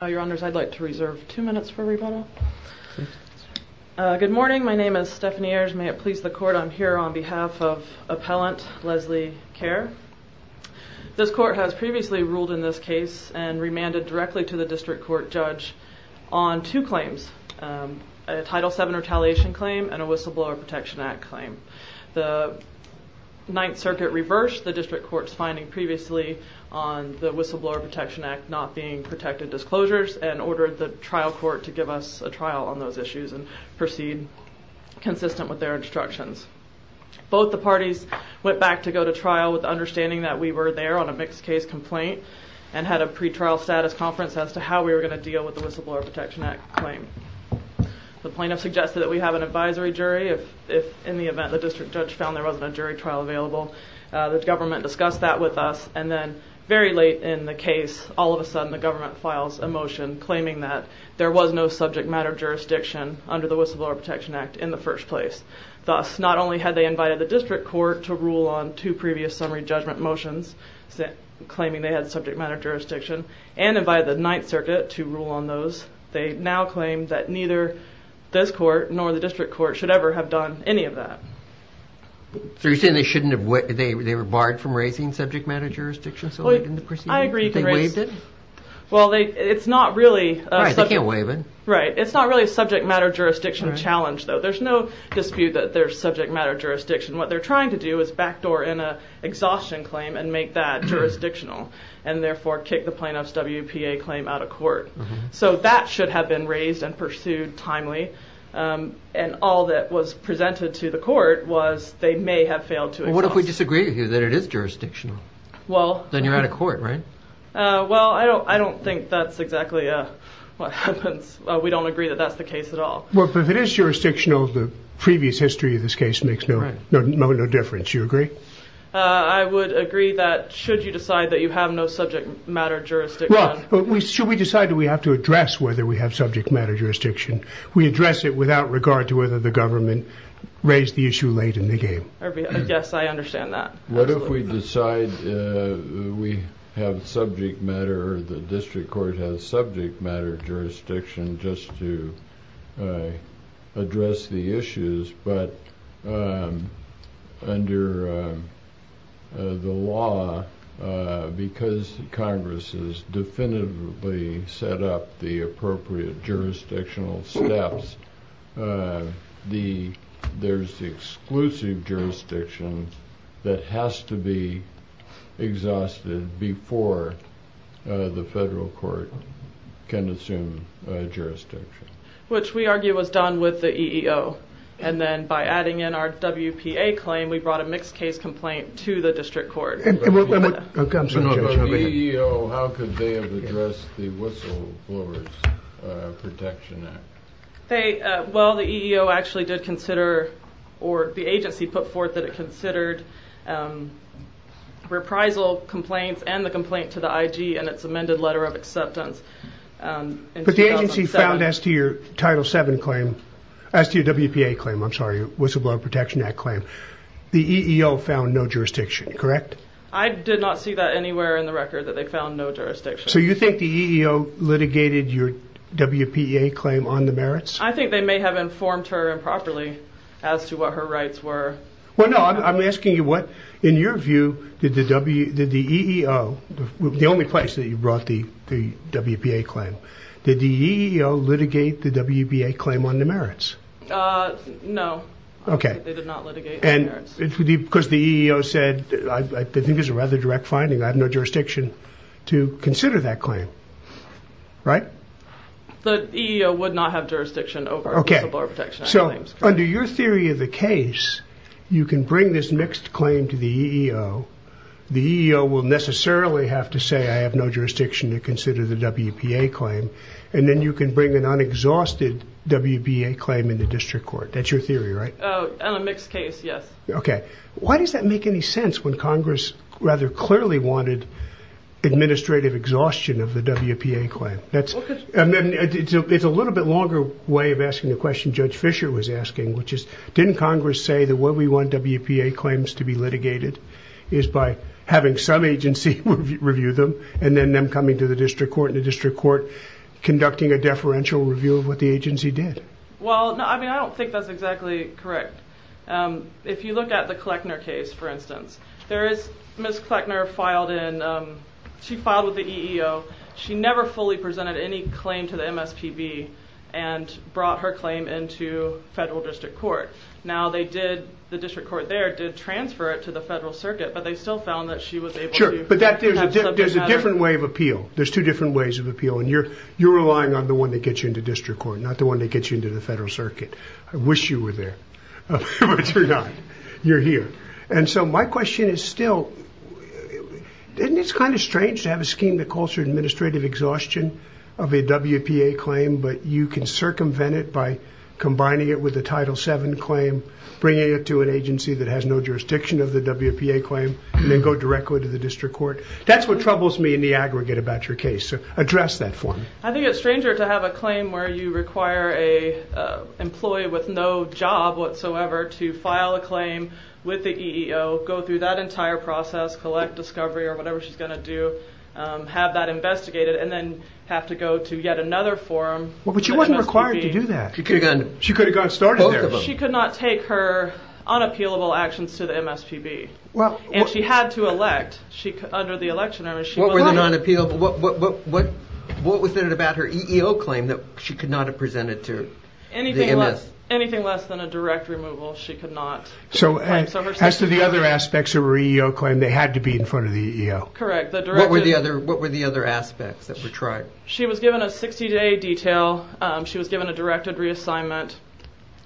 Your Honors, I'd like to reserve two minutes for rebuttal. Good morning. My name is Stephanie Ayers. May it please the Court, I'm here on behalf of Appellant Leslie Kerr. This Court has previously ruled in this case and remanded directly to the District Court Judge on two claims. A Title VII retaliation claim and a Whistleblower Protection Act claim. The and ordered the trial court to give us a trial on those issues and proceed consistent with their instructions. Both the parties went back to go to trial with the understanding that we were there on a mixed case complaint and had a pre-trial status conference as to how we were going to deal with the Whistleblower Protection Act claim. The plaintiff suggested that we have an advisory jury if in the event the District Judge found there wasn't a jury trial available. The government discussed that with us and then very late in the case all of a sudden the government files a motion claiming that there was no subject matter jurisdiction under the Whistleblower Protection Act in the first place. Thus not only had they invited the District Court to rule on two previous summary judgment motions claiming they had subject matter jurisdiction and invited the Ninth Circuit to rule on those, they now claim that neither this Court nor the District Court should ever have done any of that. So you're saying they were barred from raising subject matter jurisdictions? I agree. It's not really a subject matter jurisdiction challenge though. There's no dispute that there's subject matter jurisdiction. What they're trying to do is backdoor in an exhaustion claim and make that jurisdictional and therefore kick the plaintiff's WPA claim out of court. So that should have been raised and pursued timely and all that was presented to the court was they may have failed to exhaust. What if we disagree with you that it is jurisdictional? Then you're out of court, right? Well, I don't think that's exactly what happens. We don't agree that that's the case at all. But if it is jurisdictional, the previous history of this case makes no difference. Do you agree? I would agree that should you decide that you have no subject matter jurisdiction Well, should we decide that we have to address whether we have subject matter jurisdiction we address it without regard to whether the government raised the issue too late in the game. I guess I understand that. What if we decide we have subject matter or the district court has subject matter jurisdiction just to address the issues but under the law because Congress has definitively set up the appropriate jurisdictional steps there's exclusive jurisdiction that has to be exhausted before the federal court can assume jurisdiction. Which we argue was done with the EEO and then by adding in our WPA claim we brought a mixed case complaint to the district court. How could they have addressed the whistleblowers protection act? The agency put forth that it considered reprisal complaints and the complaint to the IG and its amended letter of acceptance. But the agency found as to your WPA claim the EEO found no jurisdiction, correct? I did not see that anywhere in the record that they found no jurisdiction. So you think the EEO litigated your WPA claim on the merits? I think they may have informed her improperly as to what her rights were. I'm asking you what, in your view, did the EEO, the only place that you brought the WPA claim, did the EEO litigate the WPA claim on the merits? No. Because the EEO said, I think this is a rather direct finding, I have no jurisdiction to consider that claim, right? The EEO would not have jurisdiction over whistleblower protection claims. Under your theory of the case, you can bring this mixed claim to the EEO, the EEO will necessarily have to say I have no jurisdiction to consider the WPA claim, and then you can bring an unexhausted WPA claim in the district court. That's your theory, right? On a mixed case, yes. Okay. Why does that make any sense when Congress rather clearly wanted administrative exhaustion of the WPA claim? It's a little bit longer way of asking the question Judge Fischer was asking, which is, didn't Congress say that what we want WPA claims to be litigated is by having some agency review them and then them coming to the district court and the district court conducting a deferential review of what the agency did? Well, I mean, I don't think that's exactly correct. If you look at the Kleckner case, for instance, there is, Ms. Kleckner filed in, she filed with the EEO, she never fully presented any claim to the MSPB and brought her claim into federal district court. Now they did, the district court there did transfer it to the federal circuit, but they still found that she was able to- There's a different way of appeal, there's two different ways of appeal, and you're relying on the one that gets you into district court, not the one that gets you into the federal circuit. I wish you were there, but you're not, you're here. And so my question is still, isn't it kind of strange to have a scheme that calls for administrative exhaustion of a WPA claim, but you can circumvent it by combining it with a Title VII claim, bringing it to an agency that has no jurisdiction of the WPA claim, and then go directly to the district court? That's what troubles me in the aggregate about your case, so address that for me. I think it's stranger to have a claim where you require an employee with no job whatsoever to file a claim with the EEO, go through that entire process, collect discovery or whatever she's going to do, have that investigated, and then have to go to yet another forum. But she wasn't required to do that. She could have gotten started there. She could not take her unappealable actions to the MSPB. And she had to elect, under the election, I mean she- What was it about her EEO claim that she could not have presented to the MSPB? Anything less than a direct removal she could not claim. So as to the other aspects of her EEO claim, they had to be in front of the EEO. Correct. What were the other aspects that were tried? She was given a 60-day detail. She was given a directed reassignment,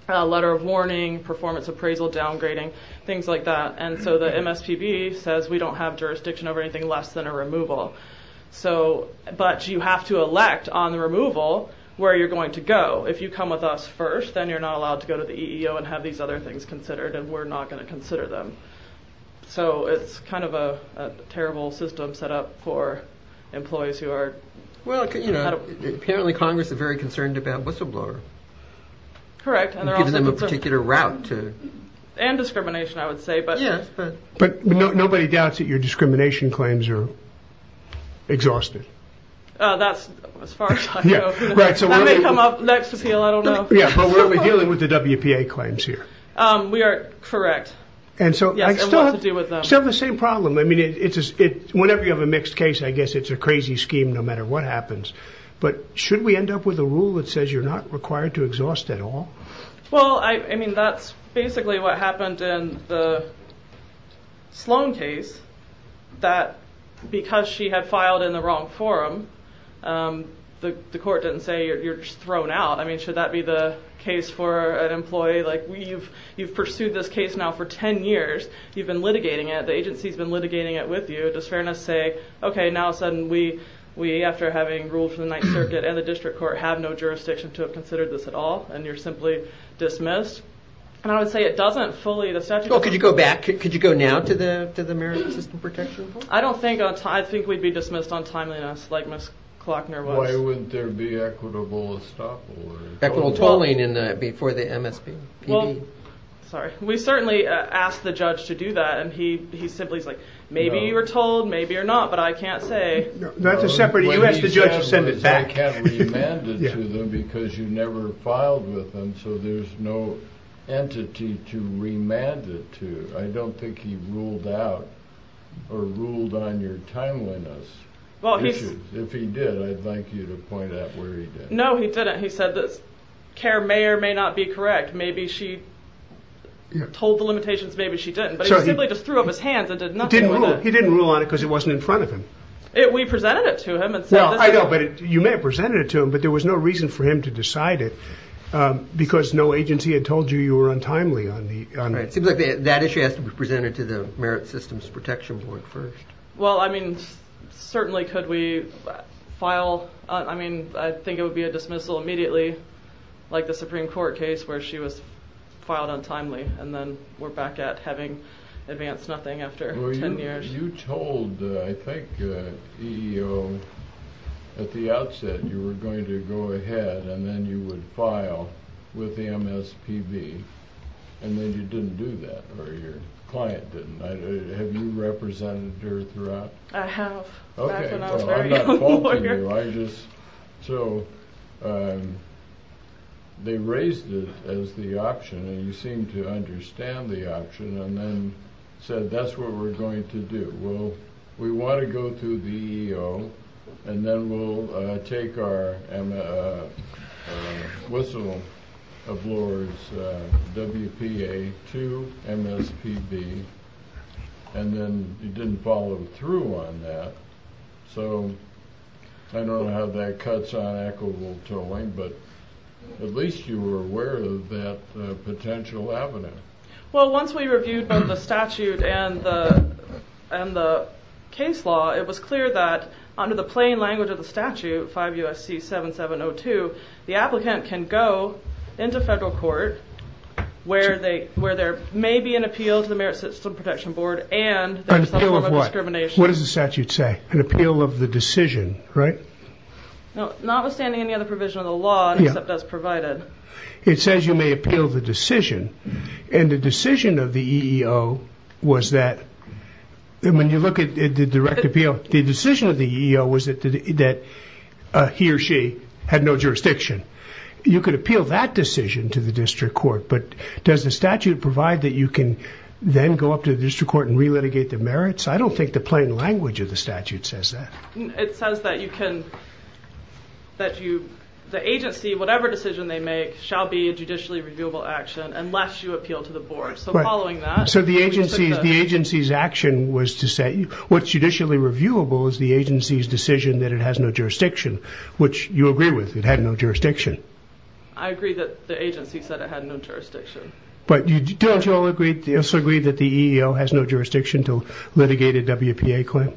a letter of warning, performance appraisal downgrading, things like that. And so the MSPB says we don't have that detail. But you have to elect on the removal where you're going to go. If you come with us first, then you're not allowed to go to the EEO and have these other things considered, and we're not going to consider them. So it's kind of a terrible system set up for employees who are- Apparently Congress is very concerned about whistleblower. Correct. You've given them a particular route to- And discrimination, I would say. But nobody doubts that your discrimination claims are exhausted. That's as far as I know. That may come up next appeal, I don't know. But we're only dealing with the WPA claims here. We are correct. And so I still have the same problem. Whenever you have a mixed case, I guess it's a crazy scheme no matter what happens. But should we end up with a rule that says you're not required to exhaust at all? Well, I mean, that's basically what happened in the case that because she had filed in the wrong forum, the court didn't say you're thrown out. I mean, should that be the case for an employee? You've pursued this case now for 10 years. You've been litigating it. The agency's been litigating it with you. Does fairness say, okay, now suddenly we, after having ruled for the Ninth Circuit and the District Court, have no jurisdiction to have considered this at all, and you're simply dismissed? And I would say it doesn't fully- Well, could you go back? I don't think we'd be dismissed on timeliness like Ms. Klockner was. Why wouldn't there be equitable estoppel? Equitable tolling before the MSP? We certainly asked the judge to do that, and he simply is like, maybe you were told, maybe you're not, but I can't say. I can't remand it to them because you never filed with them, so there's no entity to remand it to. I don't think he ruled out or ruled on your timeliness issues. If he did, I'd like you to point out where he did. No, he didn't. He said this care may or may not be correct. Maybe she told the limitations, maybe she didn't, but he simply just threw up his hands and did nothing with it. He didn't rule on it because it wasn't in front of him. We presented it to him and said this- You may have presented it to him, but there was no reason for him to decide it because no agency had told you you were untimely on it. It seems like that issue has to be presented to the Merit Systems Protection Board first. Well, I mean, certainly could we file- I mean, I think it would be a dismissal immediately like the Supreme Court case where she was filed untimely and then we're back at having advanced nothing after ten years. Well, you told I think EEO at the outset you were going to go ahead and then you would file with and then you didn't do that, or your client didn't. Have you represented her throughout? I have. Okay. I'm not faulting you, I just- so they raised it as the option and you seemed to understand the option and then said that's what we're going to do. We want to go through the EEO and then we'll take our whistle ablors WPA2 MSPB and then you didn't follow through on that, so I don't know how that cuts on equitable tolling, but at least you were aware of that potential avenue. Well, once we reviewed both the statute and the case law, it was clear that under the plain language of the statute, 5 U.S.C. 7702, the applicant can go into federal court where there may be an appeal to the Merit System Protection Board and a form of discrimination. An appeal of what? What does the statute say? An appeal of the decision, right? Notwithstanding any other provision of the law, except as provided. It says you may appeal the decision, and the decision of the EEO was that- when you look at the direct appeal, the decision of the EEO was that he or she had no jurisdiction. You could appeal that decision to the district court, but does the statute provide that you can then go up to the district court and re-litigate the merits? I don't think the plain language of the statute says that. It says that you can the agency, whatever decision they make, shall be a judicially reviewable action unless you appeal to the board. So following that- So the agency's action was to say- what's judicially reviewable is the agency's decision that it has no jurisdiction, which you agree with. It had no jurisdiction. I agree that the agency said it had no jurisdiction. But don't you all agree that the EEO has no jurisdiction to litigate a WPA claim?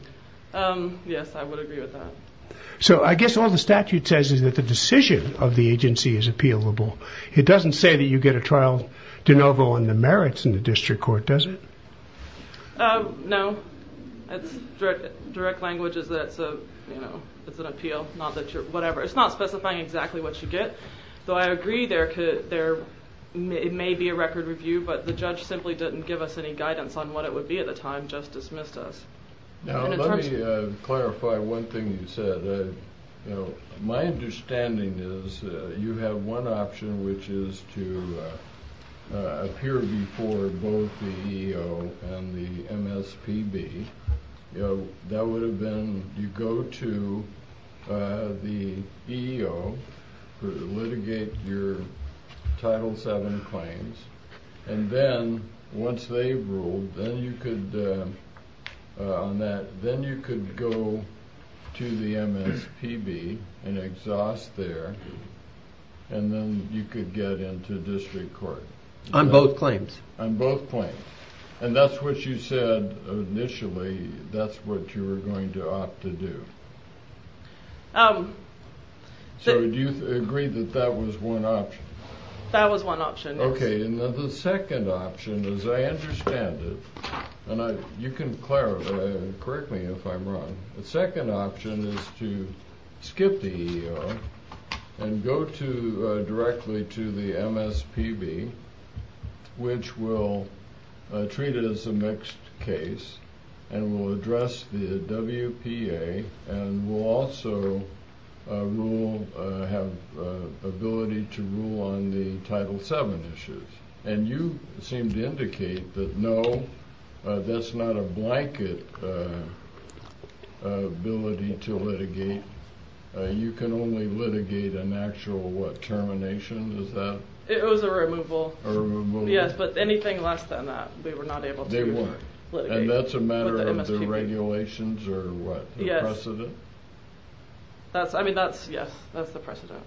Yes, I would agree with that. So I guess all the statute says is that the decision of the agency is appealable. It doesn't say that you get a trial de novo on the merits in the district court, does it? No. Direct language is that it's an appeal, not that you're- whatever. It's not specifying exactly what you get. Though I agree there may be a record review, but the judge simply didn't give us any guidance on what it would be at the time, just dismissed us. Let me clarify one thing you said. My understanding is you have one option, which is to appear before both the EEO and the MSPB. That would have been you go to the EEO to litigate your Title VII claims and then, once they've ruled, then you could go to the MSPB and exhaust there and then you could get into district court. On both claims? On both claims. And that's what you said initially that's what you were going to opt to do. So do you agree that that was one option? That was one option, yes. Okay, and then the second option, as I understand it, and you can correct me if I'm wrong, the second option is to skip the EEO and go directly to the MSPB which will treat it as a mixed case and will address the WPA and will also have ability to rule on the Title VII issues. And you seem to indicate that no, that's not a blanket ability to litigate. You can only litigate an actual, what, termination? It was a removal, yes, but anything less than that we were not able to litigate. And that's a matter of the regulations or what? The precedent? Yes, that's the precedent.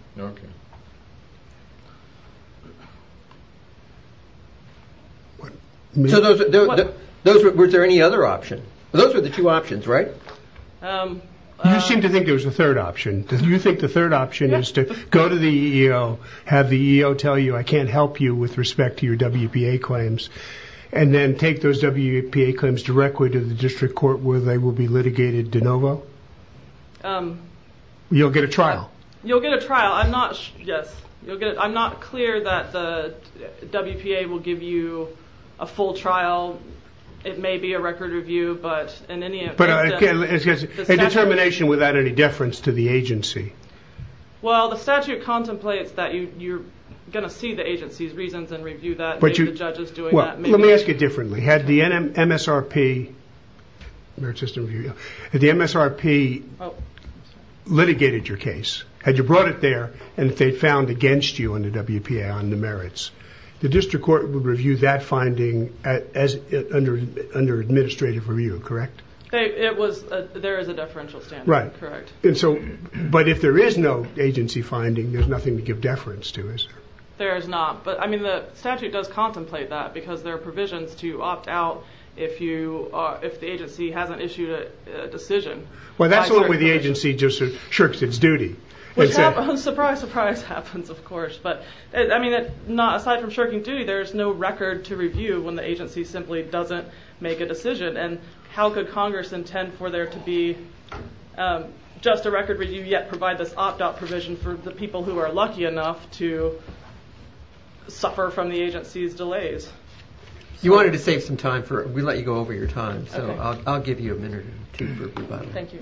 Were there any other options? Those were the two options, right? You seemed to think there was a third option. Do you think the third option is to go to the EEO, have the EEO tell you I can't help you with respect to your WPA claims, and then take those WPA claims directly to the district court where they will be litigated de novo? You'll get a trial. You'll get a trial, I'm not sure, yes. I'm not clear that the WPA will give you a full trial. It may be a record review, but in any event... A determination without any deference to the agency. Well, the statute contemplates that you're going to see the agency's reasons and review that, maybe the judge is doing that. Let me ask it differently. Had the MSRP litigated your case, had you brought it there, and if they found against you under WPA on the merits, the district court would review that finding under administrative review, correct? There is a deferential standard. Correct. But if there is no agency finding, there's nothing to give deference to, is there? There is not. The statute does contemplate that because there are provisions to opt out if the agency hasn't issued a decision. That's the way the agency just shirks its duty. Surprise, surprise happens, of course. Aside from shirking duty, there's no record to review when the agency simply doesn't make a decision. How could Congress intend for there to be just a record review, yet provide this opt-out provision for the people who are lucky enough to suffer from the agency's delays? You wanted to save some time. We let you go over your time, so I'll give you a minute or two for rebuttal. Thank you.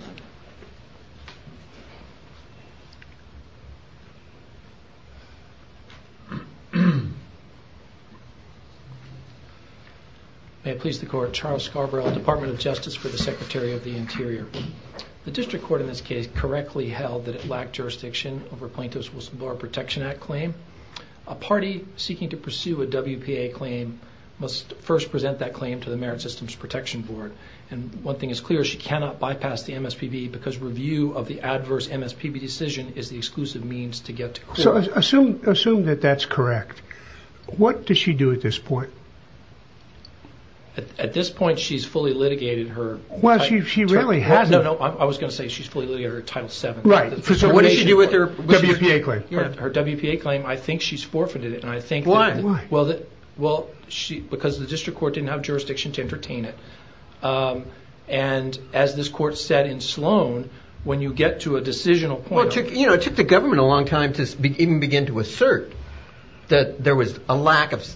May it please the Court, Charles Scarborough, Department of Justice for the Secretary of the Interior. The district court in this case correctly held that it lacked jurisdiction over a plaintiff's whistleblower protection act claim. A party seeking to pursue a WPA claim must first present that claim to the Merit Systems Protection Board, and one thing is clear, she cannot bypass MSPB because review of the adverse MSPB decision is the exclusive means to get to court. Assume that that's correct. What does she do at this point? At this point, she's fully litigated her Title VII. What did she do with her WPA claim? Her WPA claim, I think she's forfeited it. Why? Because the district court didn't have jurisdiction to entertain it. As this court said in Sloan, when you get to a decisional point... It took the government a long time to even begin to assert that there was a lack of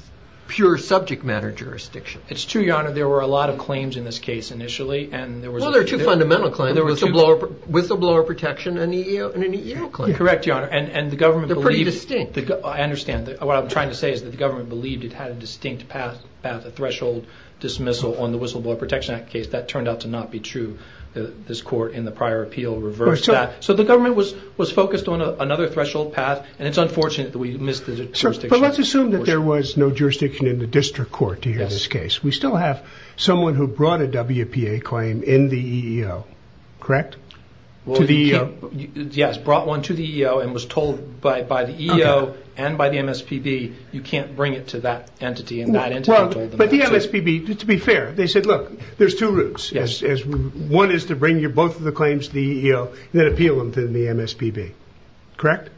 pure subject matter jurisdiction. It's true, Your Honor. There were a lot of claims in this case initially. There were two fundamental claims, whistleblower protection and an EEO claim. Correct, Your Honor. They're pretty distinct. I understand. What I'm trying to say is that the government believed it had a distinct path of threshold dismissal on the Whistleblower Protection Act case. That turned out to not be true. This court in the prior appeal reversed that. The government was focused on another threshold path. It's unfortunate that we missed the jurisdiction. Let's assume that there was no jurisdiction in the district court to hear this case. We still have someone who brought a WPA claim in the EEO. Correct? To the EEO? Yes, brought one to the EEO and was told by the EEO and by the MSPB, you can't bring it to that entity. To be fair, they said, look, there's two routes. One is to bring both of the claims to the EEO and then appeal them to the MSPB. Correct?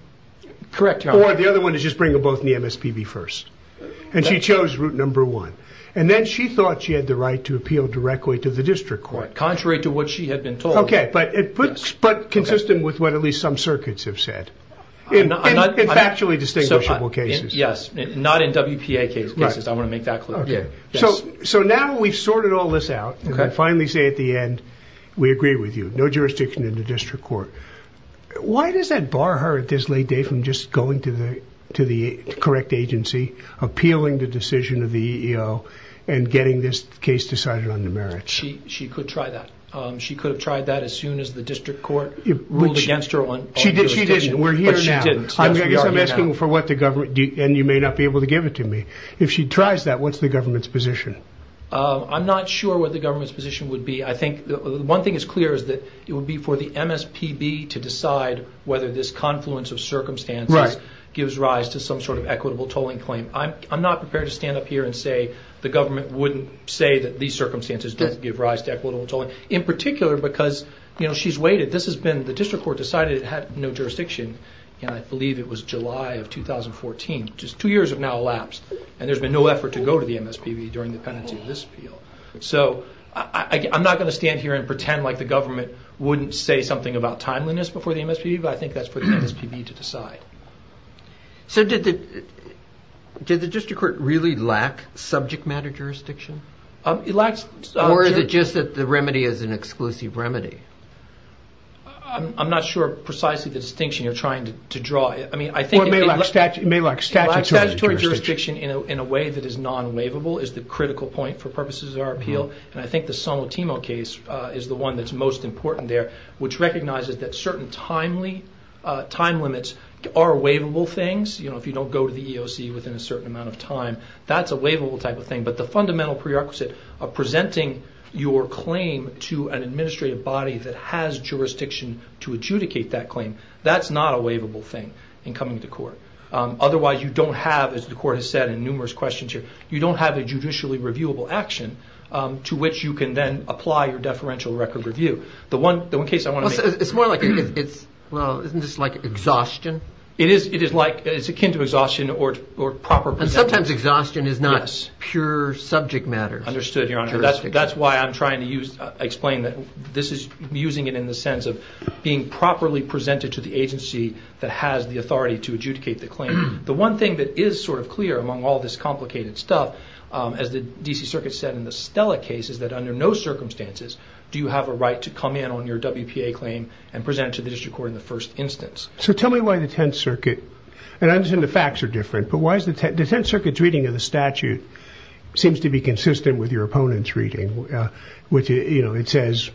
Correct, Your Honor. Or the other one is just bring them both to the MSPB first. She chose route number one. Then she thought she had the right to appeal directly to the district court. Contrary to what she had been told. Okay, but consistent with what at least some circuits have said. In factually distinguishable cases. Yes, not in WPA cases. I want to make that clear. Now we've sorted all this out. I finally say at the end, we agree with you. No jurisdiction in the district court. Why does that bar her at this late day from just going to the correct agency, appealing the decision of the EEO, and getting this case decided on the merits? She could try that. She could have tried that as soon as the district court ruled against her on jurisdiction. She didn't. We're here now. I guess I'm asking for what the government, and you may not be able to give it to me. If she tries that, what's the government's position? I'm not sure what the government's position would be. I think one thing is clear is that it would be for the MSPB to decide whether this confluence of circumstances gives rise to some sort of equitable tolling claim. I'm not prepared to stand up here and say the government wouldn't say that these circumstances don't give rise to equitable tolling. In particular because she's waited. The district court decided it in, I believe it was July of 2014. Two years have now elapsed, and there's been no effort to go to the MSPB during the pendency of this appeal. I'm not going to stand here and pretend like the government wouldn't say something about timeliness before the MSPB, but I think that's for the MSPB to decide. Did the district court really lack subject matter jurisdiction? Or is it just that the remedy is an exclusive remedy? I'm not sure precisely the distinction you're trying to draw. It may lack statutory jurisdiction. Lack of statutory jurisdiction in a way that is non-waivable is the critical point for purposes of our appeal, and I think the Sonotimo case is the one that's most important there, which recognizes that certain time limits are waivable things. If you don't go to the EEOC within a certain amount of time, that's a waivable type of thing. But the fundamental prerequisite of presenting your claim to an administrative body that has made that claim, that's not a waivable thing in coming to court. Otherwise you don't have, as the court has said in numerous questions here, you don't have a judicially reviewable action to which you can then apply your deferential record review. It's more like exhaustion. It's akin to exhaustion or proper... And sometimes exhaustion is not pure subject matter. Understood, Your Honor. That's why I'm trying to explain that this is using it in the sense of being properly presented to the agency that has the authority to adjudicate the claim. The one thing that is sort of clear among all this complicated stuff, as the D.C. Circuit said in the Stella case, is that under no circumstances do you have a right to come in on your WPA claim and present it to the district court in the first instance. So tell me why the 10th Circuit... And I understand the facts are different, but why is the 10th Circuit's reading of the statute seems to be consistent with your opponent's reading, which it says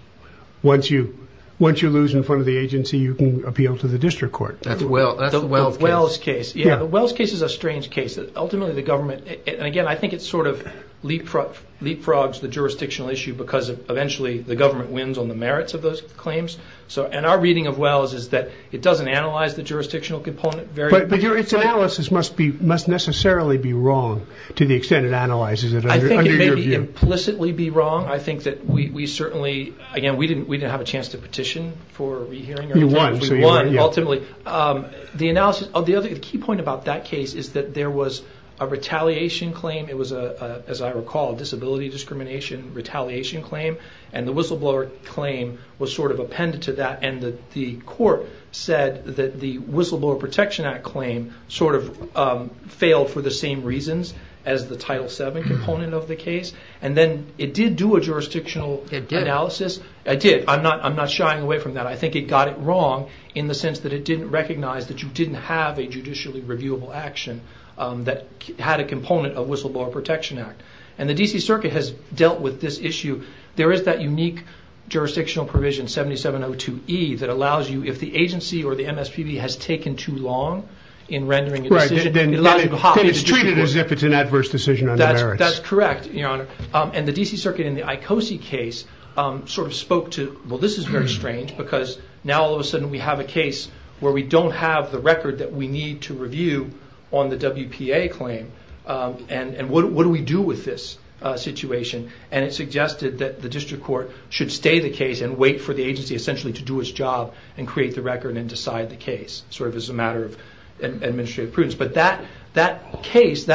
once you lose in front of the agency you can appeal to the district court. That's the Wells case. Yeah, the Wells case is a strange case. Ultimately the government... And again, I think it sort of leapfrogs the jurisdictional issue because eventually the government wins on the merits of those claims. And our reading of Wells is that it doesn't analyze the jurisdictional component very... But its analysis must necessarily be wrong to the extent it analyzes it under your view. It can't implicitly be wrong. I think that we certainly... Again, we didn't have a chance to petition for a re-hearing. We won, ultimately. The key point about that case is that there was a retaliation claim. It was, as I recall, a disability discrimination retaliation claim. And the whistleblower claim was sort of appended to that. And the court said that the Whistleblower Protection Act claim sort of failed for the same reasons as the Title VII component of the case. And then it did do a jurisdictional analysis. I'm not shying away from that. I think it got it wrong in the sense that it didn't recognize that you didn't have a judicially reviewable action that had a component of Whistleblower Protection Act. And the D.C. Circuit has dealt with this issue. There is that unique jurisdictional provision, 7702E, that allows you, if the agency or the MSPB has taken too long in rendering a decision... It's treated as if it's an adverse decision on their merits. That's correct, Your Honor. And the D.C. Circuit in the Icosi case sort of spoke to, well this is very strange because now all of a sudden we have a case where we don't have the record that we need to review on the WPA claim. And what do we do with this situation? And it suggested that the district court should stay the case and wait for the agency essentially to do its job and create the record and decide the case. Sort of as a matter of administrative prudence. But that case,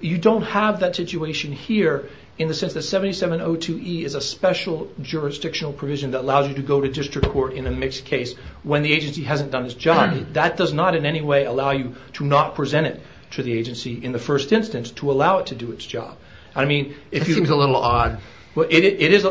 you don't have that situation here in the sense that 7702E is a special jurisdictional provision that allows you to go to district court in a mixed case when the agency hasn't done its job. That does not in any way allow you to not present it to the agency in the first instance to allow it to do its job. It seems a little odd. There's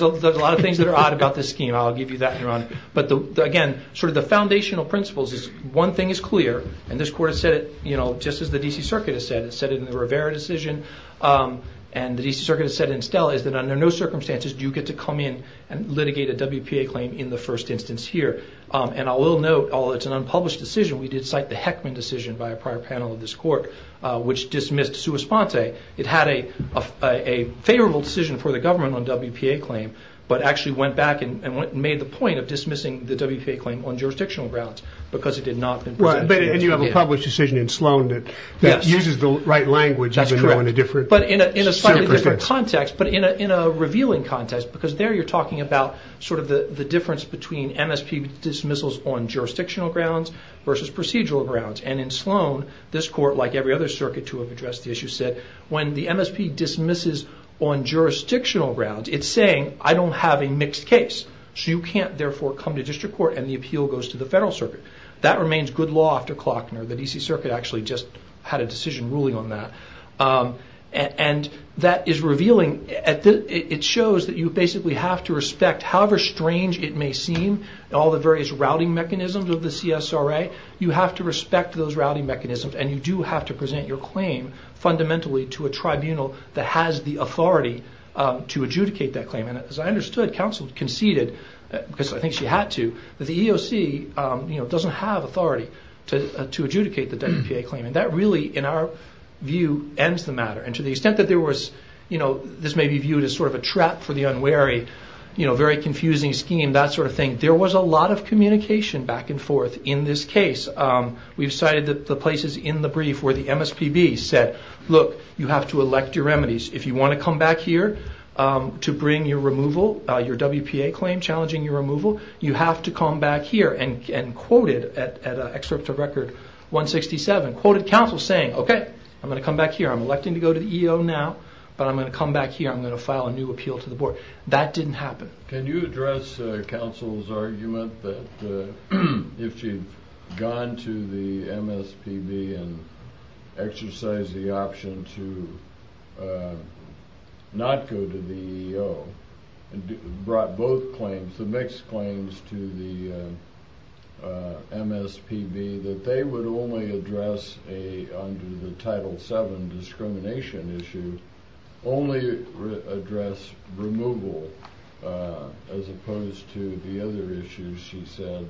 a lot of things that are odd about this scheme. I'll give you that, Your Honor. But again, sort of the foundational principles is one thing is clear, and this court has said it, you know, just as the D.C. Circuit has said it. It said it in the Rivera decision and the D.C. Circuit has said it in Stella, is that under no circumstances do you get to come in and litigate a WPA claim in the first instance here. And I will note, although it's an unpublished decision, we did cite the Heckman decision by a prior panel of this court, which dismissed sua sponte. It had a favorable decision for the government on WPA claim, but actually went back and made the point of dismissing the WPA claim on jurisdictional grounds because it did not... And you have a published decision in Sloan that uses the right language. But in a slightly different context, but in a revealing context, because there you're talking about sort of the difference between MSP dismissals on jurisdictional grounds versus procedural grounds. And in Sloan, this court, like every other circuit to have addressed the issue, said when the MSP dismisses on jurisdictional grounds, it's saying I don't have a mixed case. So you can't therefore come to district court and the appeal goes to the federal circuit. That remains good law after Klockner. The D.C. Circuit actually just had a decision ruling on that. And that is revealing. It shows that you basically have to respect however strange it may seem, all the various routing mechanisms of the CSRA, you have to respect those routing mechanisms and you do have to present your claim fundamentally to a tribunal that has the authority to adjudicate that claim. And as I understood, counsel conceded, because I think she had to, that the EOC doesn't have authority to adjudicate the WPA claim. And that really, in our view, ends the matter. And to the extent that this may be viewed as sort of a trap for the unwary, very confusing scheme, that sort of thing, there was a lot of communication back and forth in this case. We've cited the places in the brief where the MSPB said, look, you have to elect your remedies. If you want to come back here to bring your removal, your WPA claim challenging your removal, you have to come back here. And quoted at an excerpt of Record 167, quoted counsel saying, okay, I'm going to come back here. I'm electing to go to the EO now, but I'm going to come back here. I'm going to file a new appeal to the board. That didn't happen. Can you address counsel's argument that if you've gone to the MSPB and exercised the option to not go to the EO and brought both claims, the mixed claims to the MSPB, that they would only address under the Title VII discrimination issue only address removal as opposed to the other issues she said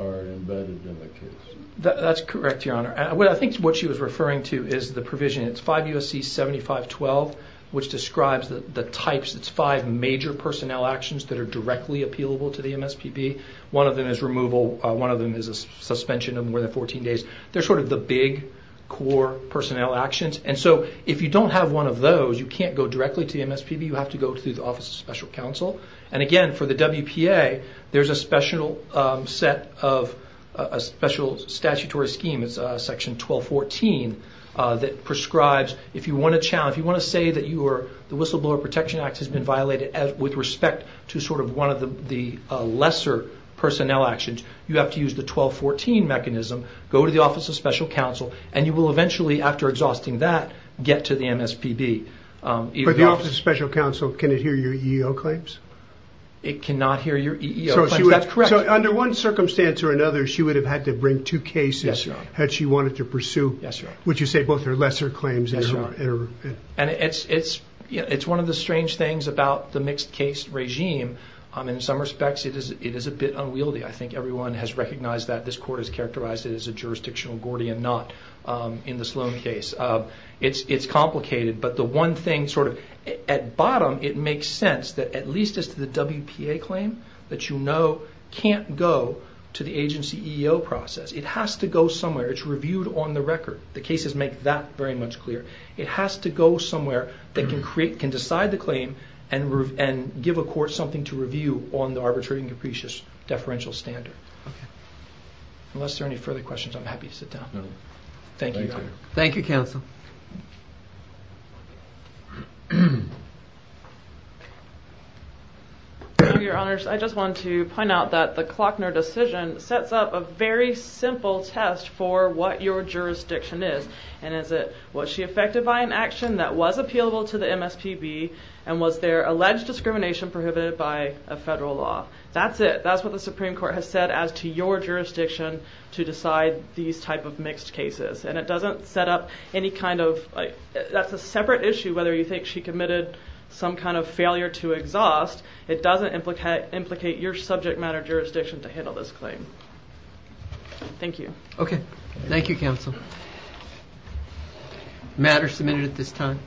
are embedded in the case? That's correct, Your Honor. I think what she was referring to is the provision. It's 5 U.S.C. 7512, which describes the types. It's five major personnel actions that are directly appealable to the MSPB. One of them is removal. One of them is a suspension of more than 14 days. They're sort of the big core personnel actions. And so if you don't have one of those, you can't go directly to the MSPB. You have to go through the Office of Special Counsel. And again, for the WPA, there's a special set of...a special statutory scheme. It's Section 1214 that prescribes if you want to say that the Whistleblower Protection Act has been violated with respect to sort of one of the lesser personnel actions, you have to use the 1214 mechanism, go to the Office of Special Counsel, and you will eventually, after exhausting that, get to the MSPB. But the Office of Special Counsel, can it hear your EEO claims? It cannot hear your EEO claims. That's correct. So under one circumstance or another, she would have had to bring two cases had she wanted to pursue, would you say, both her lesser claims and her... And it's one of the strange things about the mixed case regime. In some respects it is a bit unwieldy. I think everyone has recognized that. This court has characterized it as a jurisdictional Gordian knot in the Sloan case. It's complicated, but the one thing sort of...at bottom, it makes sense that at least as to the WPA claim, that you know can't go to the agency EEO process. It has to go somewhere. It's reviewed on the record. The cases make that very much clear. It has to go somewhere that can decide the claim and give a court something to review on the arbitrary and capricious deferential standard. Unless there are any further questions, I'm happy to sit down. Thank you. Thank you, counsel. Thank you, your honors. I just wanted to point out that the Klockner decision sets up a very simple test for what your jurisdiction is. And is it, was she affected by an action that was appealable to the MSPB and was there alleged discrimination prohibited by a federal law? That's it. That's what the Supreme Court has said as to your jurisdiction to decide these type of mixed cases. And it doesn't set up any kind of...that's a separate issue whether you think she committed some kind of failure to exhaust. It doesn't implicate your subject matter jurisdiction to handle this claim. Thank you. Okay. Thank you, counsel. Matter submitted at this time.